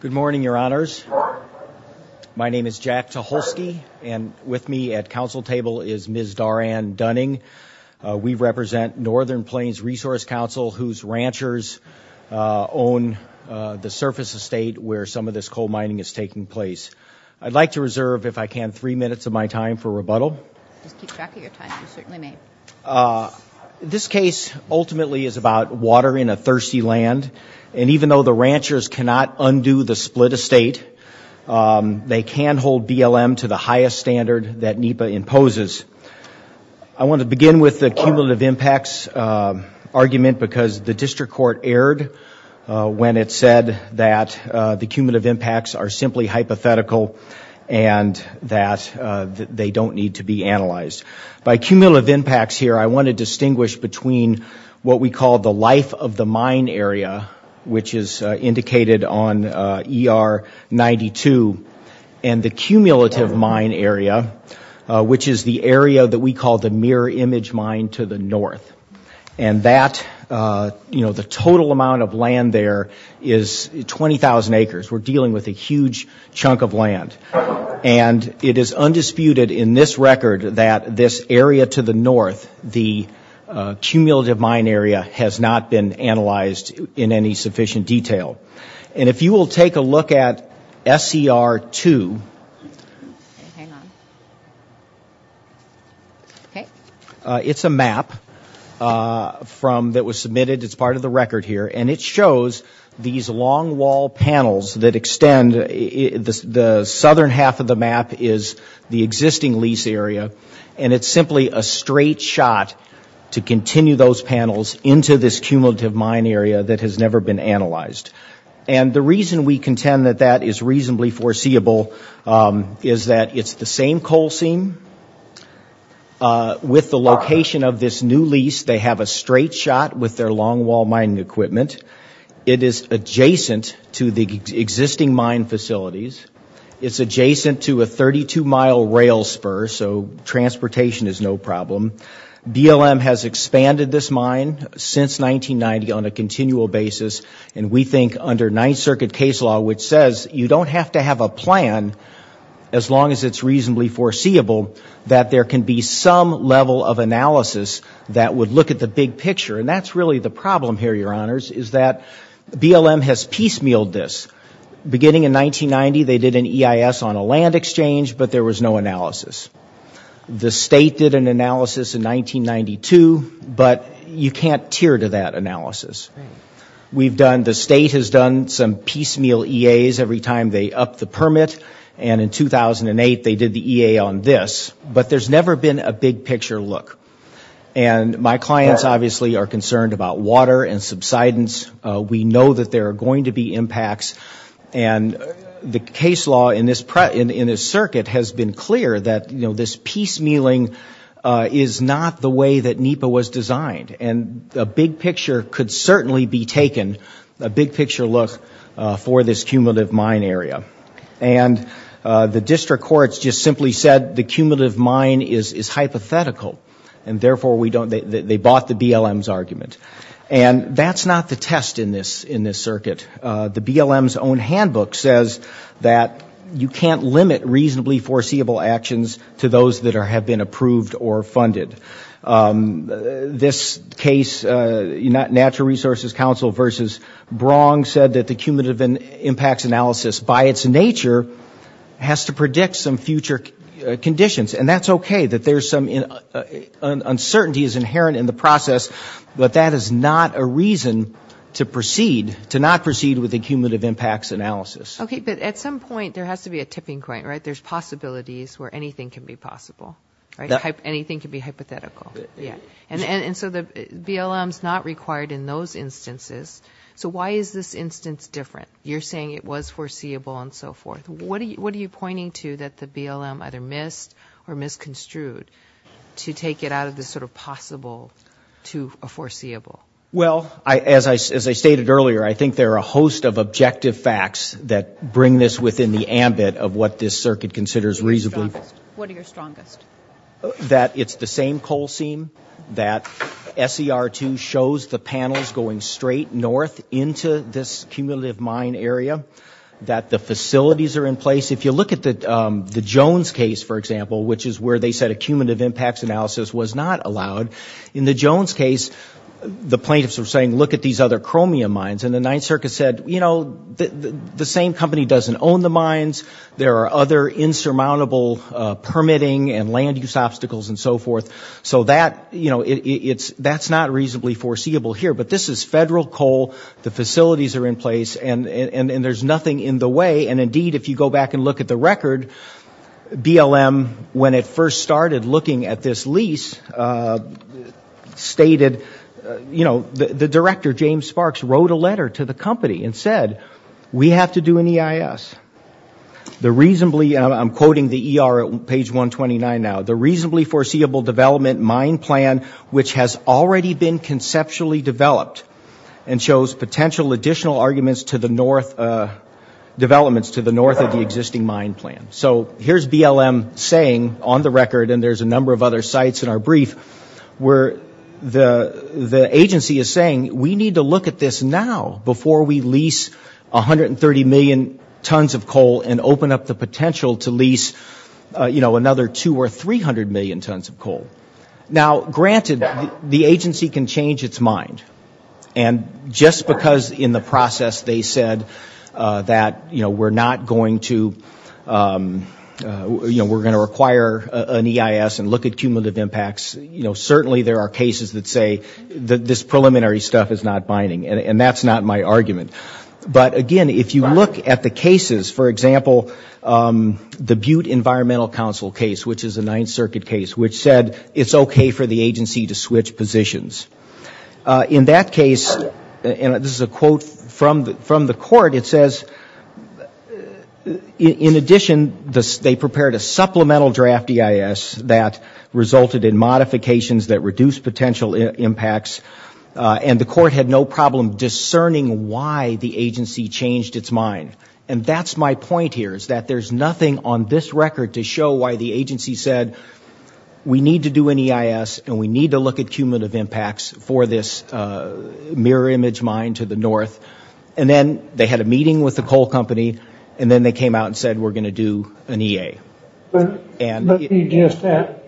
Good morning, your honors. My name is Jack Tucholsky and with me at council table is Ms. Dara Ann Dunning. We represent Northern Plains Resource Council whose ranchers own the surface estate where some of this coal mining is taking place. I'd like to reserve, if I can, three minutes of my time for rebuttal. This case ultimately is about water in a thirsty land and even though the ranchers cannot undo the split estate, they can hold BLM to the highest standard that NEPA imposes. I want to begin with the cumulative impacts argument because the district court erred when it said that the cumulative impacts are simply hypothetical and that they don't need to be analyzed. By we call the life of the mine area, which is indicated on ER 92, and the cumulative mine area, which is the area that we call the mirror image mine to the north. And that, you know, the total amount of land there is 20,000 acres. We're dealing with a huge chunk of land and it is undisputed in this record that this area to the north, the cumulative mine area, has not been analyzed in any sufficient detail. And if you will take a look at SCR 2, it's a map that was submitted, it's part of the record here, and it shows these long wall panels that and it's simply a straight shot to continue those panels into this cumulative mine area that has never been analyzed. And the reason we contend that that is reasonably foreseeable is that it's the same coal seam with the location of this new lease. They have a straight shot with their long wall mining equipment. It is adjacent to the existing mine facilities. It's adjacent to a 32 mile rail spur, so transportation is no problem. BLM has expanded this mine since 1990 on a continual basis. And we think under Ninth Circuit case law, which says you don't have to have a plan, as long as it's reasonably foreseeable, that there can be some level of analysis that would look at the big picture. And that's really the problem here, Your Honors, is that BLM has piecemealed this. Beginning in 1990, they did an EIS on a land exchange, but there was no analysis. The state did an analysis in 1992, but you can't tier to that analysis. We've done, the state has done some piecemeal EAs every time they upped the permit, and in 2008 they did the EA on this. But there's never been a big-picture look. And my clients obviously are concerned about water and subsidence. We know that there case law in this circuit has been clear that this piecemealing is not the way that NEPA was designed. And a big picture could certainly be taken, a big-picture look, for this cumulative mine area. And the district courts just simply said the cumulative mine is hypothetical, and therefore we don't, they bought the BLM's that you can't limit reasonably foreseeable actions to those that have been approved or funded. This case, Natural Resources Council versus Brong said that the cumulative impacts analysis by its nature has to predict some future conditions. And that's okay, that there's some uncertainty is inherent in the process, but that is not a reason to proceed, to not proceed with the case. Right, but at some point there has to be a tipping point, right? There's possibilities where anything can be possible, right? Anything can be hypothetical, yeah. And so the BLM's not required in those instances. So why is this instance different? You're saying it was foreseeable and so forth. What are you pointing to that the BLM either missed or misconstrued to take it out of the sort of possible to a foreseeable? Well, as I stated earlier, I think there are a host of objective facts that bring this within the ambit of what this circuit considers reasonable. What are your strongest? That it's the same coal seam, that SER2 shows the panels going straight north into this cumulative mine area, that the facilities are in place. If you look at the Jones case, for example, which is where they said a cumulative impacts analysis was not allowed. In the Jones case, the plaintiffs were saying, look at these other chromium mines. And the Ninth Circuit said, you know, the same company doesn't own the mines. There are other insurmountable permitting and land use obstacles and so forth. So that, you know, it's that's not reasonably foreseeable here. But this is federal coal. The facilities are in place and there's nothing in the way. And indeed, if you go back and look at the record, BLM when it first started looking at this lease, stated, you know, the director, James Sparks, wrote a letter to the company and said, we have to do an EIS. The reasonably, and I'm quoting the ER on page 129 now, the reasonably foreseeable development mine plan, which has already been conceptually developed and shows potential additional arguments to the north, developments to the north of the record. And there's a number of other sites in our brief where the agency is saying, we need to look at this now before we lease 130 million tons of coal and open up the potential to lease, you know, another two or 300 million tons of coal. Now, granted, the agency can change its mind. And just because in the process they said that, you know, we're not going to, you know, we're going to acquire an EIS and look at cumulative impacts, you know, certainly there are cases that say this preliminary stuff is not binding. And that's not my argument. But again, if you look at the cases, for example, the Butte Environmental Council case, which is a Ninth Circuit case, which said it's okay for the agency to switch positions. In that case, and this is a quote from the court, it says, in addition, they prepared a supplemental draft EIS that resulted in modifications that reduced potential impacts. And the court had no problem discerning why the agency changed its mind. And that's my point here, is that there's nothing on this record to show why the agency said, we need to do an EIS and we need to look at cumulative impacts for this mirror image mine to the north. And then they had a meeting with the coal company. And then they came out and said, we're going to do an EA. Let me just add,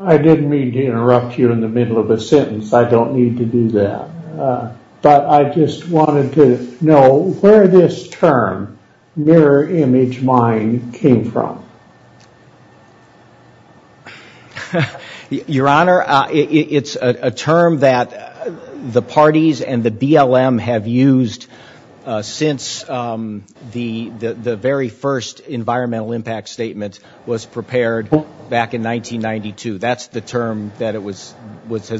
I didn't mean to interrupt you in the middle of a sentence. I don't need to do that. But I just wanted to know where this term, mirror image mine, came from. Your Honor, it's a term that the parties and the BLM have used since the very first environmental impact statement was prepared back in 1992. That's the term that has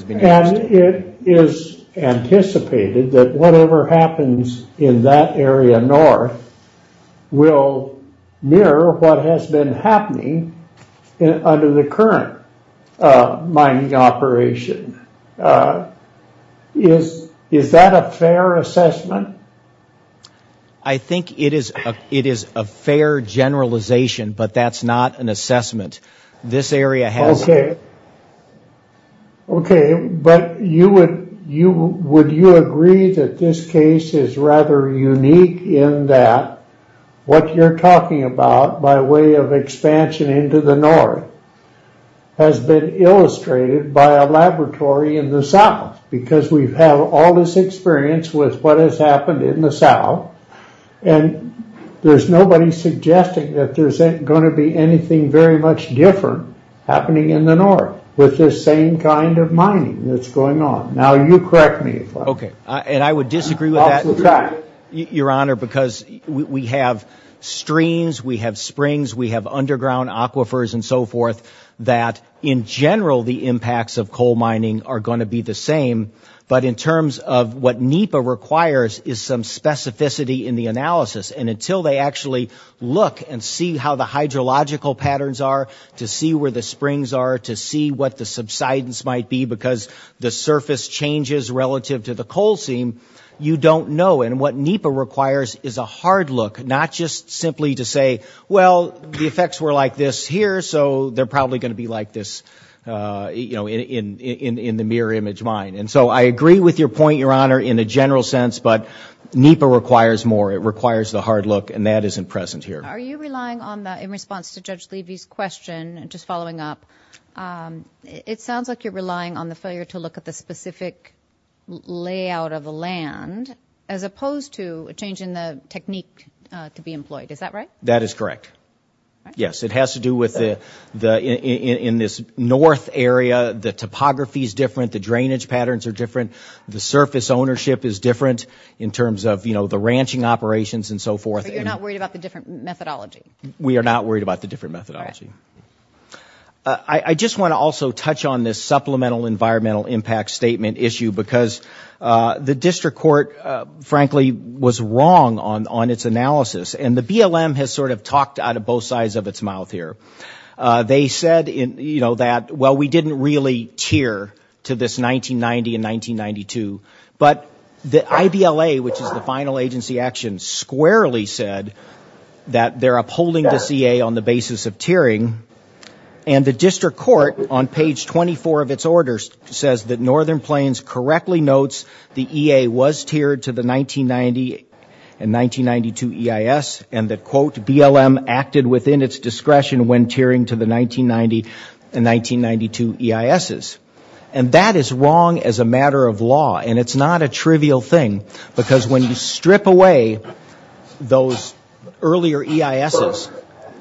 been used. And it is anticipated that whatever happens in that under the current mining operation, is that a fair assessment? I think it is. It is a fair generalization, but that's not an assessment. This area has... OK, but would you agree that this case is rather unique in that what you're suggesting, the expansion into the north, has been illustrated by a laboratory in the south? Because we've had all this experience with what has happened in the south. And there's nobody suggesting that there's going to be anything very much different happening in the north with this same kind of mining that's going on. Now, you correct me if I'm wrong. OK, and I would disagree with that, Your Honor, because we have streams, we have springs, we have underground aquifers and so forth, that in general, the impacts of coal mining are going to be the same. But in terms of what NEPA requires is some specificity in the analysis. And until they actually look and see how the hydrological patterns are, to see where the springs are, to see what the subsidence might be, because the surface changes relative to the coal seam, you don't know. And what NEPA requires is a hard look, not just simply to say, well, the effects were like this here, so they're probably going to be like this in the mirror image mine. And so I agree with your point, Your Honor, in a general sense. But NEPA requires more. It requires the hard look. And that isn't present here. Are you relying on that in response to Judge Levy's question? Just following up, it sounds like you're relying on the failure to look at the specific layout of the land. As opposed to a change in the technique to be employed. Is that right? That is correct. Yes, it has to do with the in this north area, the topography is different. The drainage patterns are different. The surface ownership is different in terms of, you know, the ranching operations and so forth. You're not worried about the different methodology? We are not worried about the different methodology. I just want to also touch on this supplemental environmental impact statement issue because the district court, frankly, was wrong on its analysis. And the BLM has sort of talked out of both sides of its mouth here. They said, you know, that, well, we didn't really tier to this 1990 and 1992. But the IBLA, which is the final agency action, squarely said that they're upholding the CA on the basis of tiering. And the district court, on page 24 of its orders, says that Northern Plains correctly notes the EA was tiered to the 1990 and 1992 EIS. And that, quote, BLM acted within its discretion when tiering to the 1990 and 1992 EISs. And that is wrong as a matter of law. And it's not a trivial thing because when you strip away those earlier EISs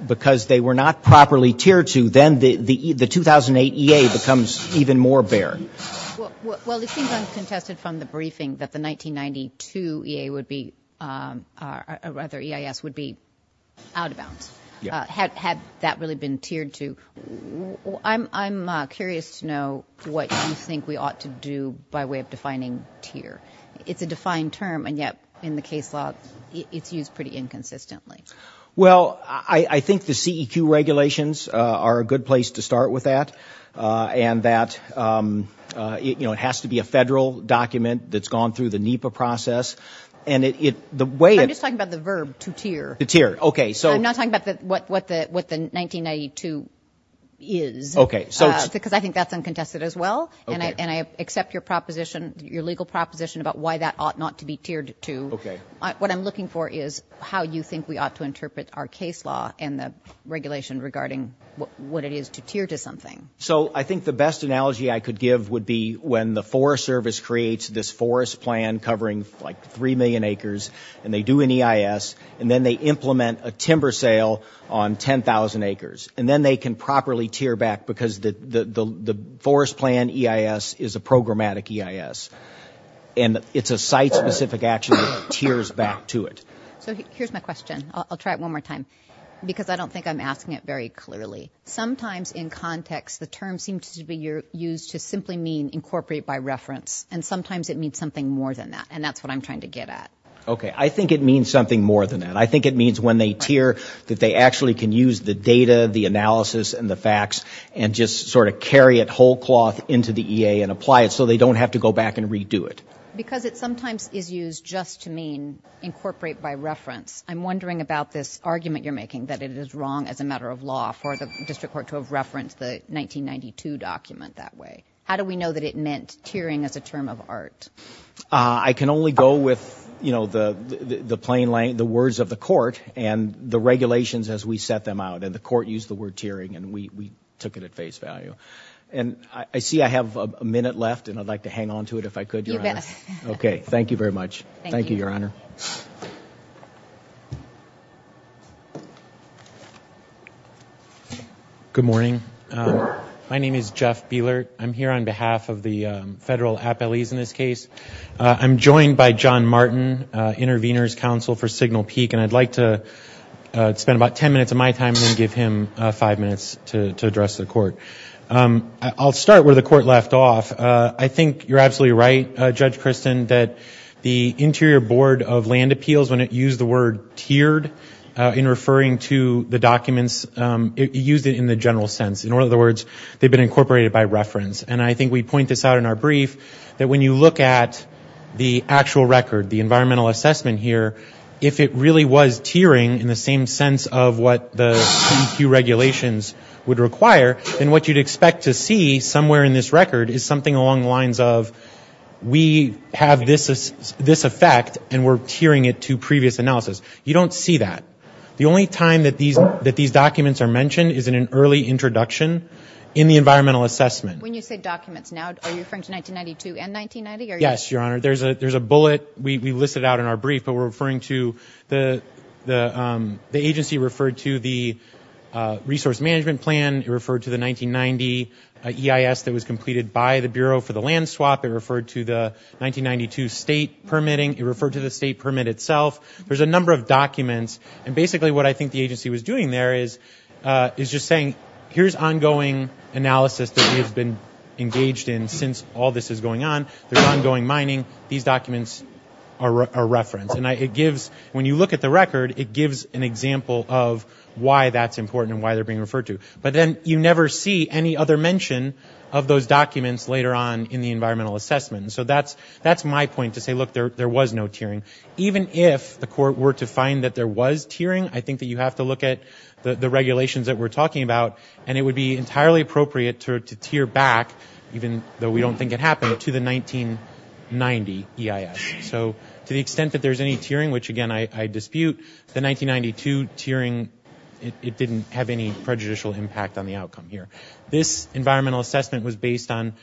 because they were not properly tiered to, then the 2008 EA becomes even more bare. Well, it seems uncontested from the briefing that the 1992 EA would be, or rather EIS, would be out of bounds had that really been tiered to. I'm curious to know what you think we ought to do by way of defining tier. It's a defined term. And yet in the case law, it's used pretty inconsistently. Well, I think the CEQ regulations are a good place to start with that. And that, you know, it has to be a federal document that's gone through the NEPA process. And it the way it's talking about the verb to tier the tier. I'm not talking about what the 1992 is because I think that's uncontested as well. And I accept your proposition, your legal proposition about why that ought not to be tiered to. What I'm looking for is how you think we ought to interpret our case law and the regulation regarding what it is to tier to something. So I think the best analogy I could give would be when the Forest Service creates this forest plan covering like three million acres and they do an EIS. And then they implement a timber sale on 10,000 acres. And then they can properly tier back because the forest plan EIS is a programmatic EIS. And it's a site specific action that tiers back to it. So here's my question. I'll try it one more time because I don't think I'm asking it very clearly. Sometimes in context, the term seems to be used to simply mean incorporate by reference. And sometimes it means something more than that. And that's what I'm trying to get at. OK, I think it means something more than that. I think it means when they tier that they actually can use the data, the analysis and the facts and just sort of carry it whole cloth into the EA and apply it so they don't have to go back and redo it. Because it sometimes is used just to mean incorporate by reference. I'm wondering about this argument you're making that it is wrong as a matter of law for the district court to have referenced the 1992 document that way. How do we know that it meant tiering as a term of art? I can only go with, you know, the plain language, the words of the court and the regulations as we set them out. And the court used the word tiering and we took it at face value. And I see I have a minute left and I'd like to hang on to it if I could. OK, thank you very much. Thank you, Your Honor. Good morning. My name is Jeff Beeler. I'm here on behalf of the federal appellees in this case. I'm joined by John Martin, intervener's counsel for Signal Peak. And I'd like to spend about 10 minutes of my time and give him five minutes to address the court. I'll start where the court left off. I think you're absolutely right, Judge Christin, that the Interior Board of Land Appeals, when it used the word tiered in referring to the documents, it used it in the general sense. In other words, they've been incorporated by reference. And I think we point this out in our brief that when you look at the actual record, the environmental assessment here, if it really was tiering in the same sense of what the CEQ regulations would require, then what you'd expect to see somewhere in this record is something along the lines of we have this effect and we're tiering it to previous analysis. You don't see that. The only time that these documents are mentioned is in an early introduction in the environmental assessment. When you say documents now, are you referring to 1992 and 1990? Yes, Your Honor. There's a bullet we listed out in our brief, but we're referring to the agency referred to the resource management plan. It referred to the 1990 EIS that was completed by the Bureau for the land swap. It referred to the 1992 state permitting. It referred to the state permit itself. There's a number of documents. And basically what I think the agency was doing there is just saying, here's ongoing analysis that we have been engaged in since all this is going on. There's ongoing mining. These documents are referenced. And it gives, when you look at the record, it gives an example of why that's important and why they're being referred to. But then you never see any other mention of those documents later on in the environmental assessment. So that's my point to say, look, there was no tiering. Even if the court were to find that there was tiering, I think that you have to look at the regulations that we're talking about. And it would be entirely appropriate to tier back, even though we don't think it happened, to the 1990 EIS. So to the extent that there's any tiering, which again I dispute, the 1992 tiering, it didn't have any prejudicial impact on the outcome here. This environmental assessment was based on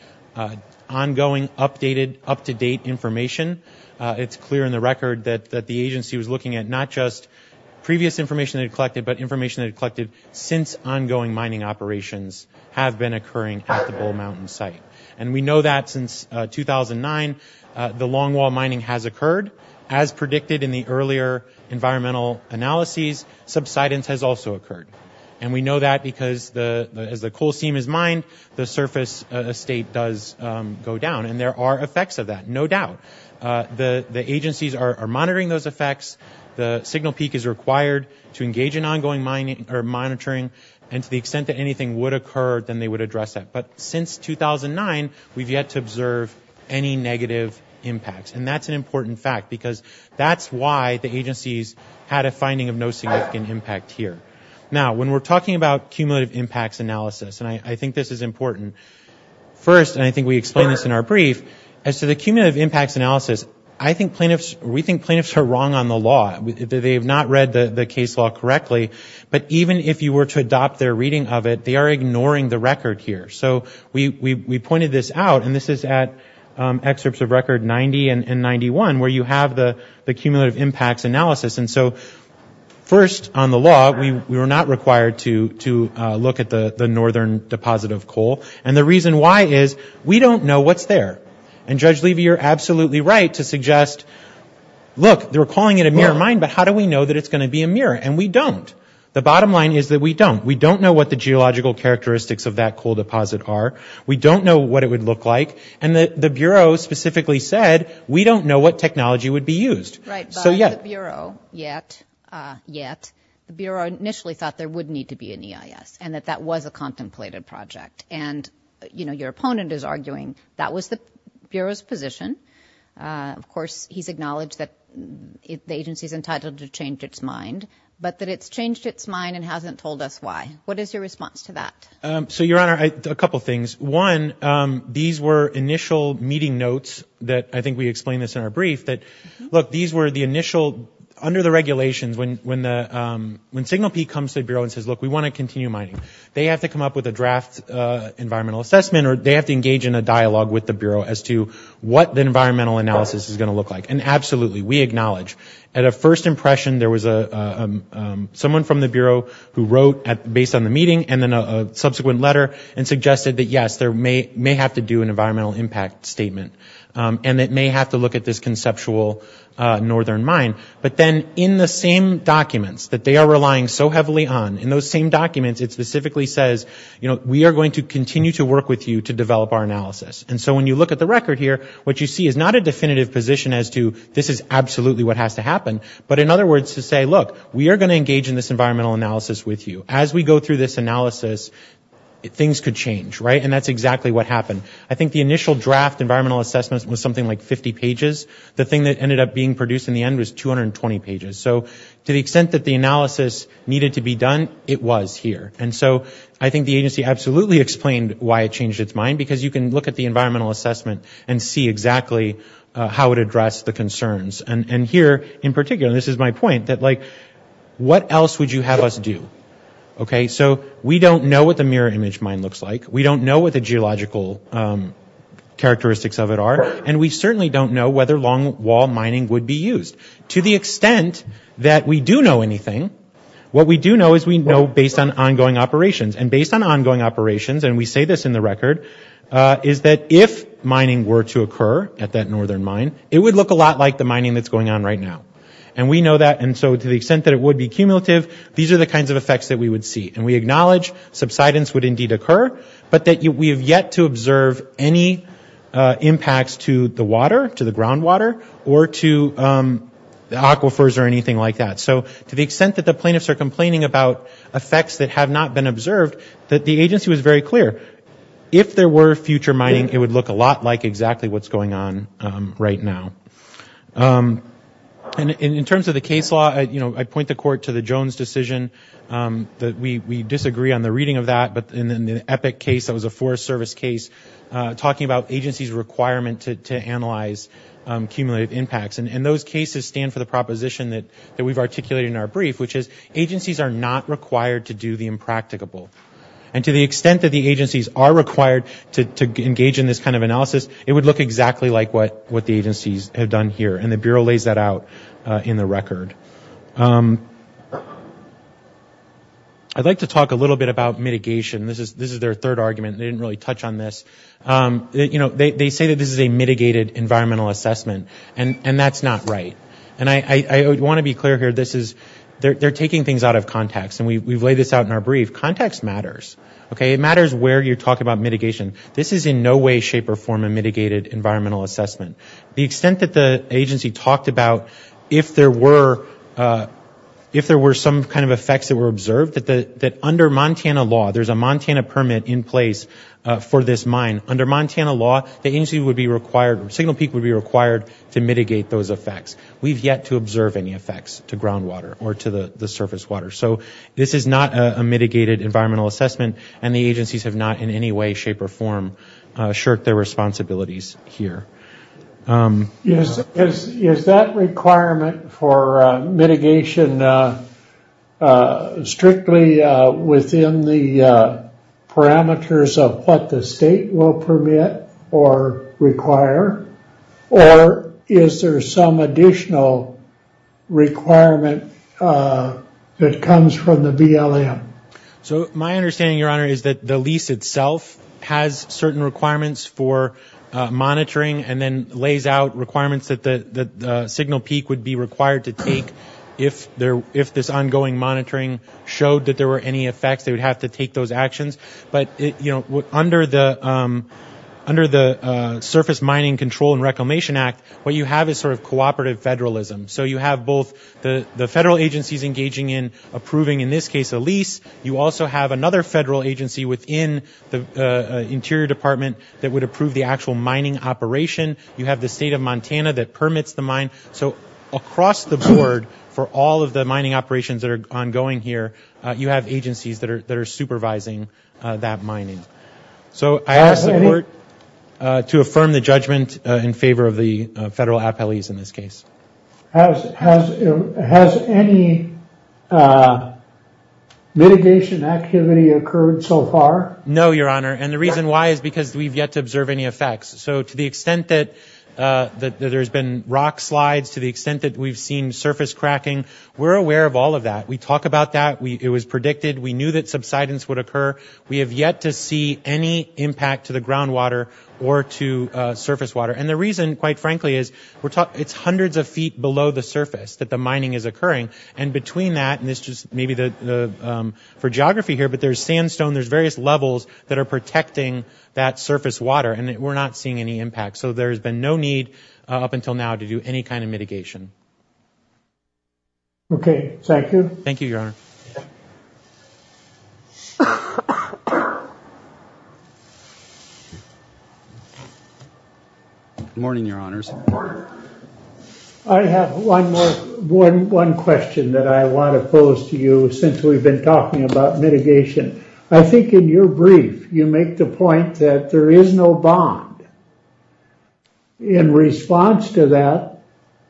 ongoing, updated, up-to-date information. It's clear in the record that the agency was looking at not just previous information they'd collected, but information they'd collected since ongoing mining operations have been occurring at the Bull Mountain site. And we know that since 2009, the longwall mining has occurred. As predicted in the earlier environmental analyses, subsidence has also occurred. And we know that because as the coal seam is mined, the surface estate does go down. And there are effects of that, no doubt. The agencies are monitoring those effects. The signal peak is required to engage in ongoing mining or monitoring. And to the extent that anything would occur, then they would address that. But since 2009, we've yet to observe any negative impacts. And that's an important fact, because that's why the agencies had a finding of no significant impact here. Now, when we're talking about cumulative impacts analysis, and I think this is important. First, and I think we explained this in our brief, as to the cumulative impacts analysis, I think plaintiffs, we think plaintiffs are wrong on the law. They have not read the case law correctly. But even if you were to adopt their reading of it, they are ignoring the record here. So we pointed this out. And this is at excerpts of record 90 and 91, where you have the cumulative impacts analysis. And so first on the law, we were not required to look at the northern deposit of coal. And the reason why is, we don't know what's there. And Judge Levy, you're absolutely right to suggest, look, they're calling it a mirror mine, but how do we know that it's going to be a mirror? And we don't. The bottom line is that we don't. We don't know what the geological characteristics of that coal deposit are. We don't know what it would look like. And the Bureau specifically said, we don't know what technology would be used. So yet. Right, but the Bureau, yet, yet, the Bureau initially thought there would need to be an EIS. And that that was a contemplated project. And, you know, your opponent is arguing that was the Bureau's position. Of course, he's acknowledged that the agency's entitled to change its mind. But that it's changed its mind and hasn't told us why. What is your response to that? So, Your Honor, a couple things. One, these were initial meeting notes that, I think we explained this in our brief, that, look, these were the initial, under the regulations, when the, when Signal Peak comes to the Bureau and says, look, we want to continue mining. They have to come up with a draft environmental assessment or they have to engage in a dialogue with the Bureau as to what the environmental analysis is going to look like. And absolutely, we acknowledge, at a first impression, there was a, someone from the Bureau who wrote at, based on the meeting and then a subsequent letter and suggested that, yes, there may, may have to do an environmental impact statement. And it may have to look at this conceptual northern mine. But then in the same documents that they are relying so heavily on, in those same documents it specifically says, you know, we are going to continue to work with you to develop our analysis. And so when you look at the record here, what you see is not a definitive position as to this is absolutely what has to happen. But, in other words, to say, look, we are going to engage in this environmental analysis with you. As we go through this analysis, things could change, right? And that's exactly what happened. I think the initial draft environmental assessment was something like 50 pages. The thing that ended up being produced in the end was 220 pages. So to the extent that the analysis needed to be done, it was here. And so I think the agency absolutely explained why it changed its mind, because you can look at the environmental assessment and see exactly how it addressed the concerns. And here, in particular, and this is my point, that, like, what else would you have us do? Okay, so we don't know what the mirror image mine looks like. We don't know what the geological characteristics of it are. And we certainly don't know whether long wall mining would be used. To the extent that we do know anything, what we do know is we know based on ongoing operations. And based on ongoing operations, and we say this in the record, is that if mining were to occur at that northern mine, it would look a lot like the mining that's going on right now. And we know that. And so to the extent that it would be cumulative, these are the kinds of effects that we would see. And we acknowledge subsidence would indeed occur, but that we have yet to observe any impacts to the water, to the groundwater, or to the aquifers or anything like that. So to the extent that the plaintiffs are complaining about effects that have not been observed, that the agency was very clear, if there were future mining, it would look a lot like exactly what's going on right now. And in terms of the case law, you know, I point the court to the Jones decision that we disagree on the reading of that, but in the Epic case, that was a Forest Service case, talking about agency's requirement to analyze cumulative impacts. And those cases stand for the proposition that we've articulated in our brief, which is agencies are not required to do the impracticable. And to the extent that the agencies are required to engage in this kind of analysis, it would look exactly like what the agencies have done here. And the Bureau lays that out in the record. I'd like to talk a little bit about mitigation. This is their third argument. They didn't really touch on this. You know, they say that this is a mitigated environmental assessment, and that's not right. And I want to be clear here, this is, they're taking things out of context. And we've laid this out in our brief. Context matters, okay? It matters where you're talking about mitigation. This is in no way, shape, or form a mitigated environmental assessment. The extent that the agency talked about, if there were some kind of effects that were observed, that under Montana law, there's a Montana permit in place for this mine. Under Montana law, the agency would be required, Signal Peak would be required to mitigate those effects. We've yet to observe any effects to groundwater or to the surface water. So this is not a mitigated environmental assessment. And the agencies have not in any way, shape, or form, shirked their responsibilities here. Is that requirement for mitigation strictly within the parameters of what the state will permit or require? Or is there some additional requirement that comes from the BLM? So my understanding, Your Honor, is that the lease itself has certain requirements for monitoring and then lays out requirements that Signal Peak would be required to take if this ongoing monitoring showed that there were any effects, they would have to take those actions. But under the Surface Mining Control and Reclamation Act, what you have is sort of cooperative federalism. So you have both the federal agencies engaging in approving, in this case, a lease. You also have another federal agency within the Interior Department that would approve the actual mining operation. You have the state of Montana that permits the mine. So across the board, for all of the mining operations that are ongoing here, you have agencies that are supervising that mining. So I ask the court to affirm the judgment in favor of the federal appellees in this case. Has any mitigation activity occurred so far? No, Your Honor. And the reason why is because we've yet to observe any effects. So to the extent that there's been rock slides, to the extent that we've seen surface cracking, we're aware of all of that. We talk about that. It was predicted. We knew that subsidence would occur. We have yet to see any impact to the groundwater or to surface water. And the reason, quite frankly, is it's hundreds of feet below the surface that the mining is occurring. And between that, and this just maybe for geography here, there's sandstone, there's various levels that are protecting that surface water. And we're not seeing any impact. So there's been no need up until now to do any kind of mitigation. Thank you. Thank you, Your Honor. Good morning, Your Honors. I have one more, one question that I want to pose to you since we've been talking about mitigation. I think in your brief, you make the point that there is no bond. In response to that,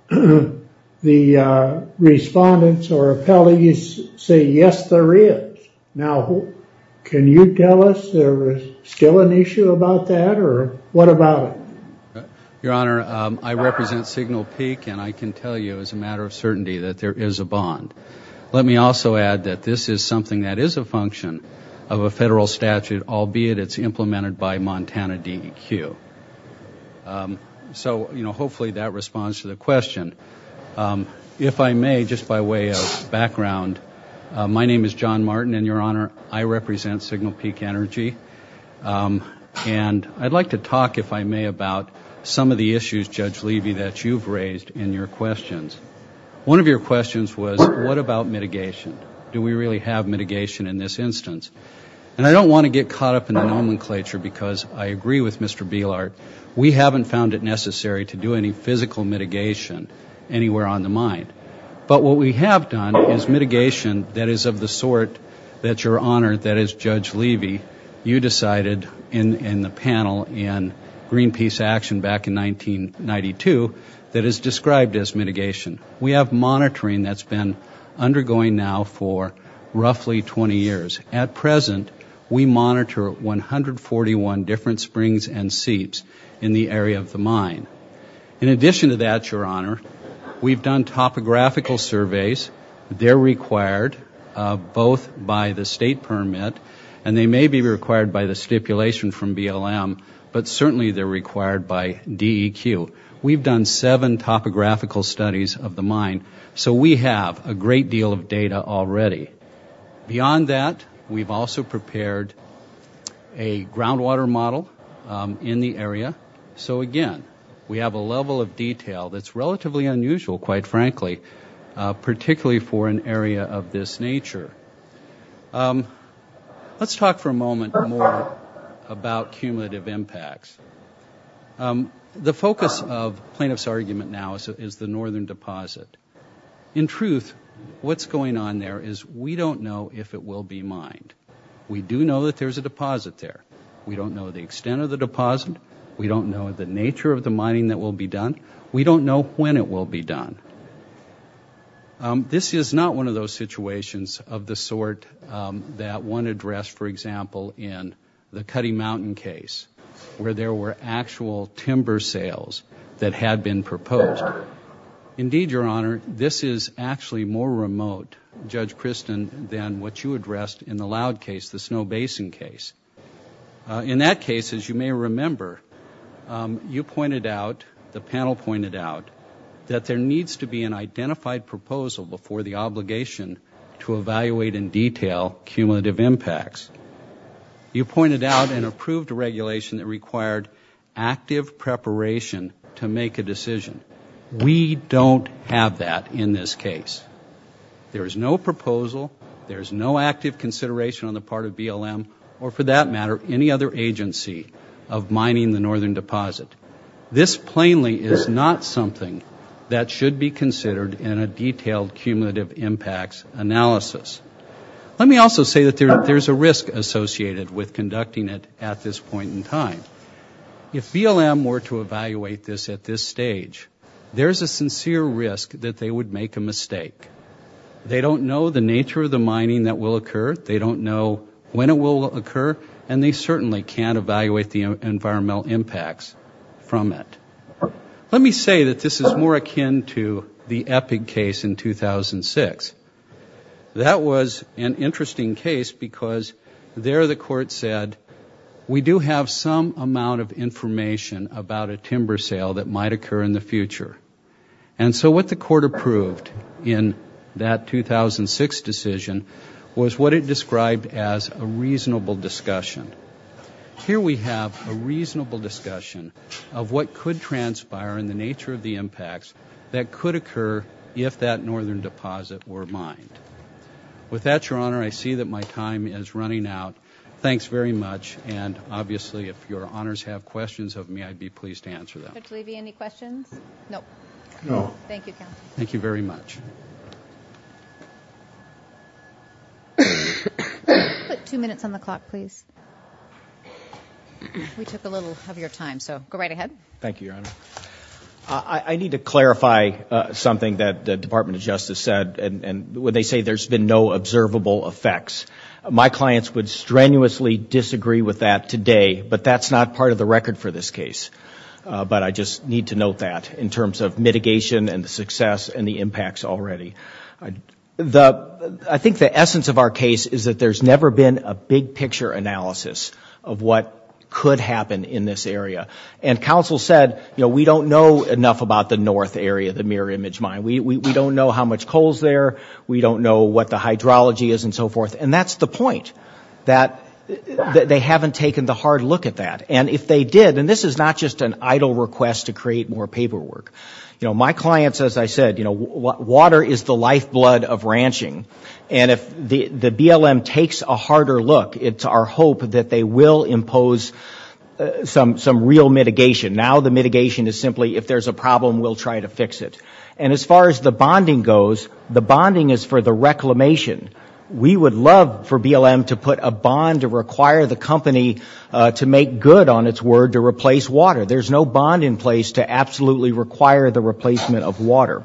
the respondents or appellees say, yes, there is. Now, can you tell us there is still an issue about that? Or what about it? Your Honor, I represent Signal Peak. And I can tell you as a matter of certainty that there is a bond. Let me also add that this is something that is a function of a federal statute, albeit it's implemented by Montana DEQ. So hopefully that responds to the question. If I may, just by way of background, my name is John Martin. And Your Honor, I represent Signal Peak Energy. And I'd like to talk, if I may, about some of the issues, Judge Levy, that you've raised in your questions. One of your questions was, what about mitigation? Do we really have mitigation in this instance? And I don't want to get caught up in the nomenclature, because I agree with Mr. Beillard. We haven't found it necessary to do any physical mitigation anywhere on the mind. But what we have done is mitigation that is of the sort that, Your Honor, that as Judge Levy, you decided in the panel in Greenpeace Action back in 1992 that is described as mitigation. We have monitoring that's been undergoing now for roughly 20 years. At present, we monitor 141 different springs and seeps in the area of the mine. In addition to that, Your Honor, we've done topographical surveys. They're required both by the state permit, and they may be required by the stipulation from BLM, but certainly they're required by DEQ. We've done seven topographical studies of the mine. So we have a great deal of data already. Beyond that, we've also prepared a groundwater model in the area. So again, we have a level of detail that's relatively unusual, quite frankly, particularly for an area of this nature. Let's talk for a moment more about cumulative impacts. The focus of plaintiff's argument now is the northern deposit. In truth, what's going on there is we don't know if it will be mined. We do know that there's a deposit there. We don't know the extent of the deposit. We don't know the nature of the mining that will be done. We don't know when it will be done. This is not one of those situations of the sort that one addressed, for example, in the Cutty Mountain case, where there were actual timber sales that had been proposed. Indeed, Your Honor, this is actually more remote, Judge Christin, than what you addressed in the Loud case, the Snow Basin case. In that case, as you may remember, you pointed out, the panel pointed out, that there needs to be an identified proposal before the obligation to evaluate in detail cumulative impacts. You pointed out and approved a regulation that required active preparation to make a decision. We don't have that in this case. There is no proposal. There is no active consideration on the part of BLM, or for that matter, any other agency of mining the northern deposit. This plainly is not something that should be considered in a detailed cumulative impacts analysis. Let me also say that there's a risk associated with conducting it at this point in time. If BLM were to evaluate this at this stage, there's a sincere risk that they would make a mistake. They don't know the nature of the mining that will occur. They don't know when it will occur, and they certainly can't evaluate the environmental impacts from it. Let me say that this is more akin to the EPIG case in 2006. That was an interesting case because there the court said, we do have some amount of information about a timber sale that might occur in the future. And so what the court approved in that 2006 decision was what it described as a reasonable discussion. Here we have a reasonable discussion of what could transpire in the nature of the impacts that could occur if that northern deposit were mined. With that, your honor, I see that my time is running out. Thanks very much. And obviously, if your honors have questions of me, I'd be pleased to answer them. Judge Levy, any questions? No. Thank you, counsel. Thank you very much. Put two minutes on the clock, please. We took a little of your time, so go right ahead. Thank you, your honor. I need to clarify something that the Department of Justice said. And when they say there's been no observable effects, my clients would strenuously disagree with that today. But that's not part of the record for this case. But I just need to note that in terms of mitigation and the success and the impacts already. I think the essence of our case is that there's never been a big picture analysis of what could happen in this area. And counsel said, you know, we don't know enough about the north area, the Mirror Image Mine. We don't know how much coal's there. We don't know what the hydrology is and so forth. And that's the point, that they haven't taken the hard look at that. And if they did, and this is not just an idle request to create more paperwork. You know, my clients, as I said, you know, water is the lifeblood of ranching. And if the BLM takes a harder look, it's our hope that they will impose some real mitigation. Now the mitigation is simply, if there's a problem, we'll try to fix it. And as far as the bonding goes, the bonding is for the reclamation. We would love for BLM to put a bond to require the company to make good on its word to replace water. There's no bond in place to absolutely require the replacement of water.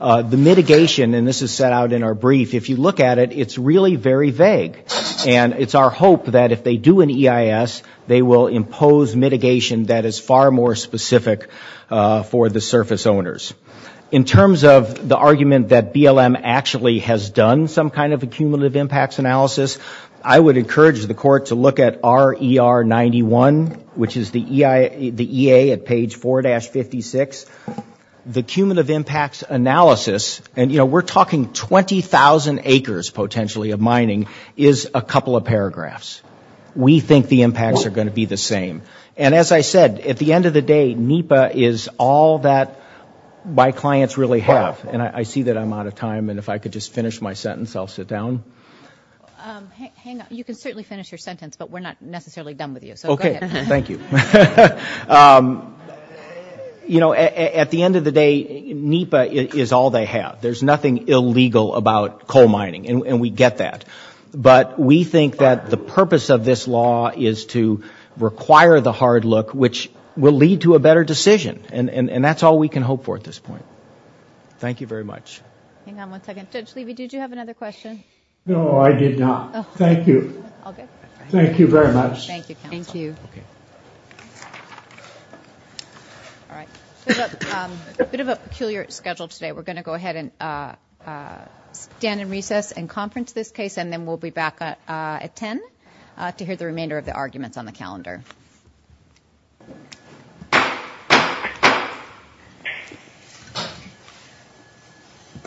The mitigation, and this is set out in our brief, if you look at it, it's really very vague. And it's our hope that if they do an EIS, they will impose mitigation that is far more specific for the surface owners. In terms of the argument that BLM actually has done some kind of a cumulative impacts analysis, I would encourage the court to look at RER 91, which is the EA at page 4-56. The cumulative impacts analysis, and you know, we're talking 20,000 acres potentially of mining, is a couple of paragraphs. We think the impacts are going to be the same. And as I said, at the end of the day, NEPA is all that my clients really have. And I see that I'm out of time. And if I could just finish my sentence, I'll sit down. Hang on, you can certainly finish your sentence, but we're not necessarily done with you. So go ahead. Thank you. You know, at the end of the day, NEPA is all they have. There's nothing illegal about coal mining, and we get that. But we think that the purpose of this law is to require the hard look, which will lead to a better decision. And that's all we can hope for at this point. Thank you very much. Hang on one second. Judge Levy, did you have another question? No, I did not. Thank you. Thank you very much. Thank you, counsel. Thank you. All right, a bit of a peculiar schedule today. We're going to go ahead and stand in recess and conference this case. And then we'll be back at 10 to hear the remainder of the arguments on the calendar.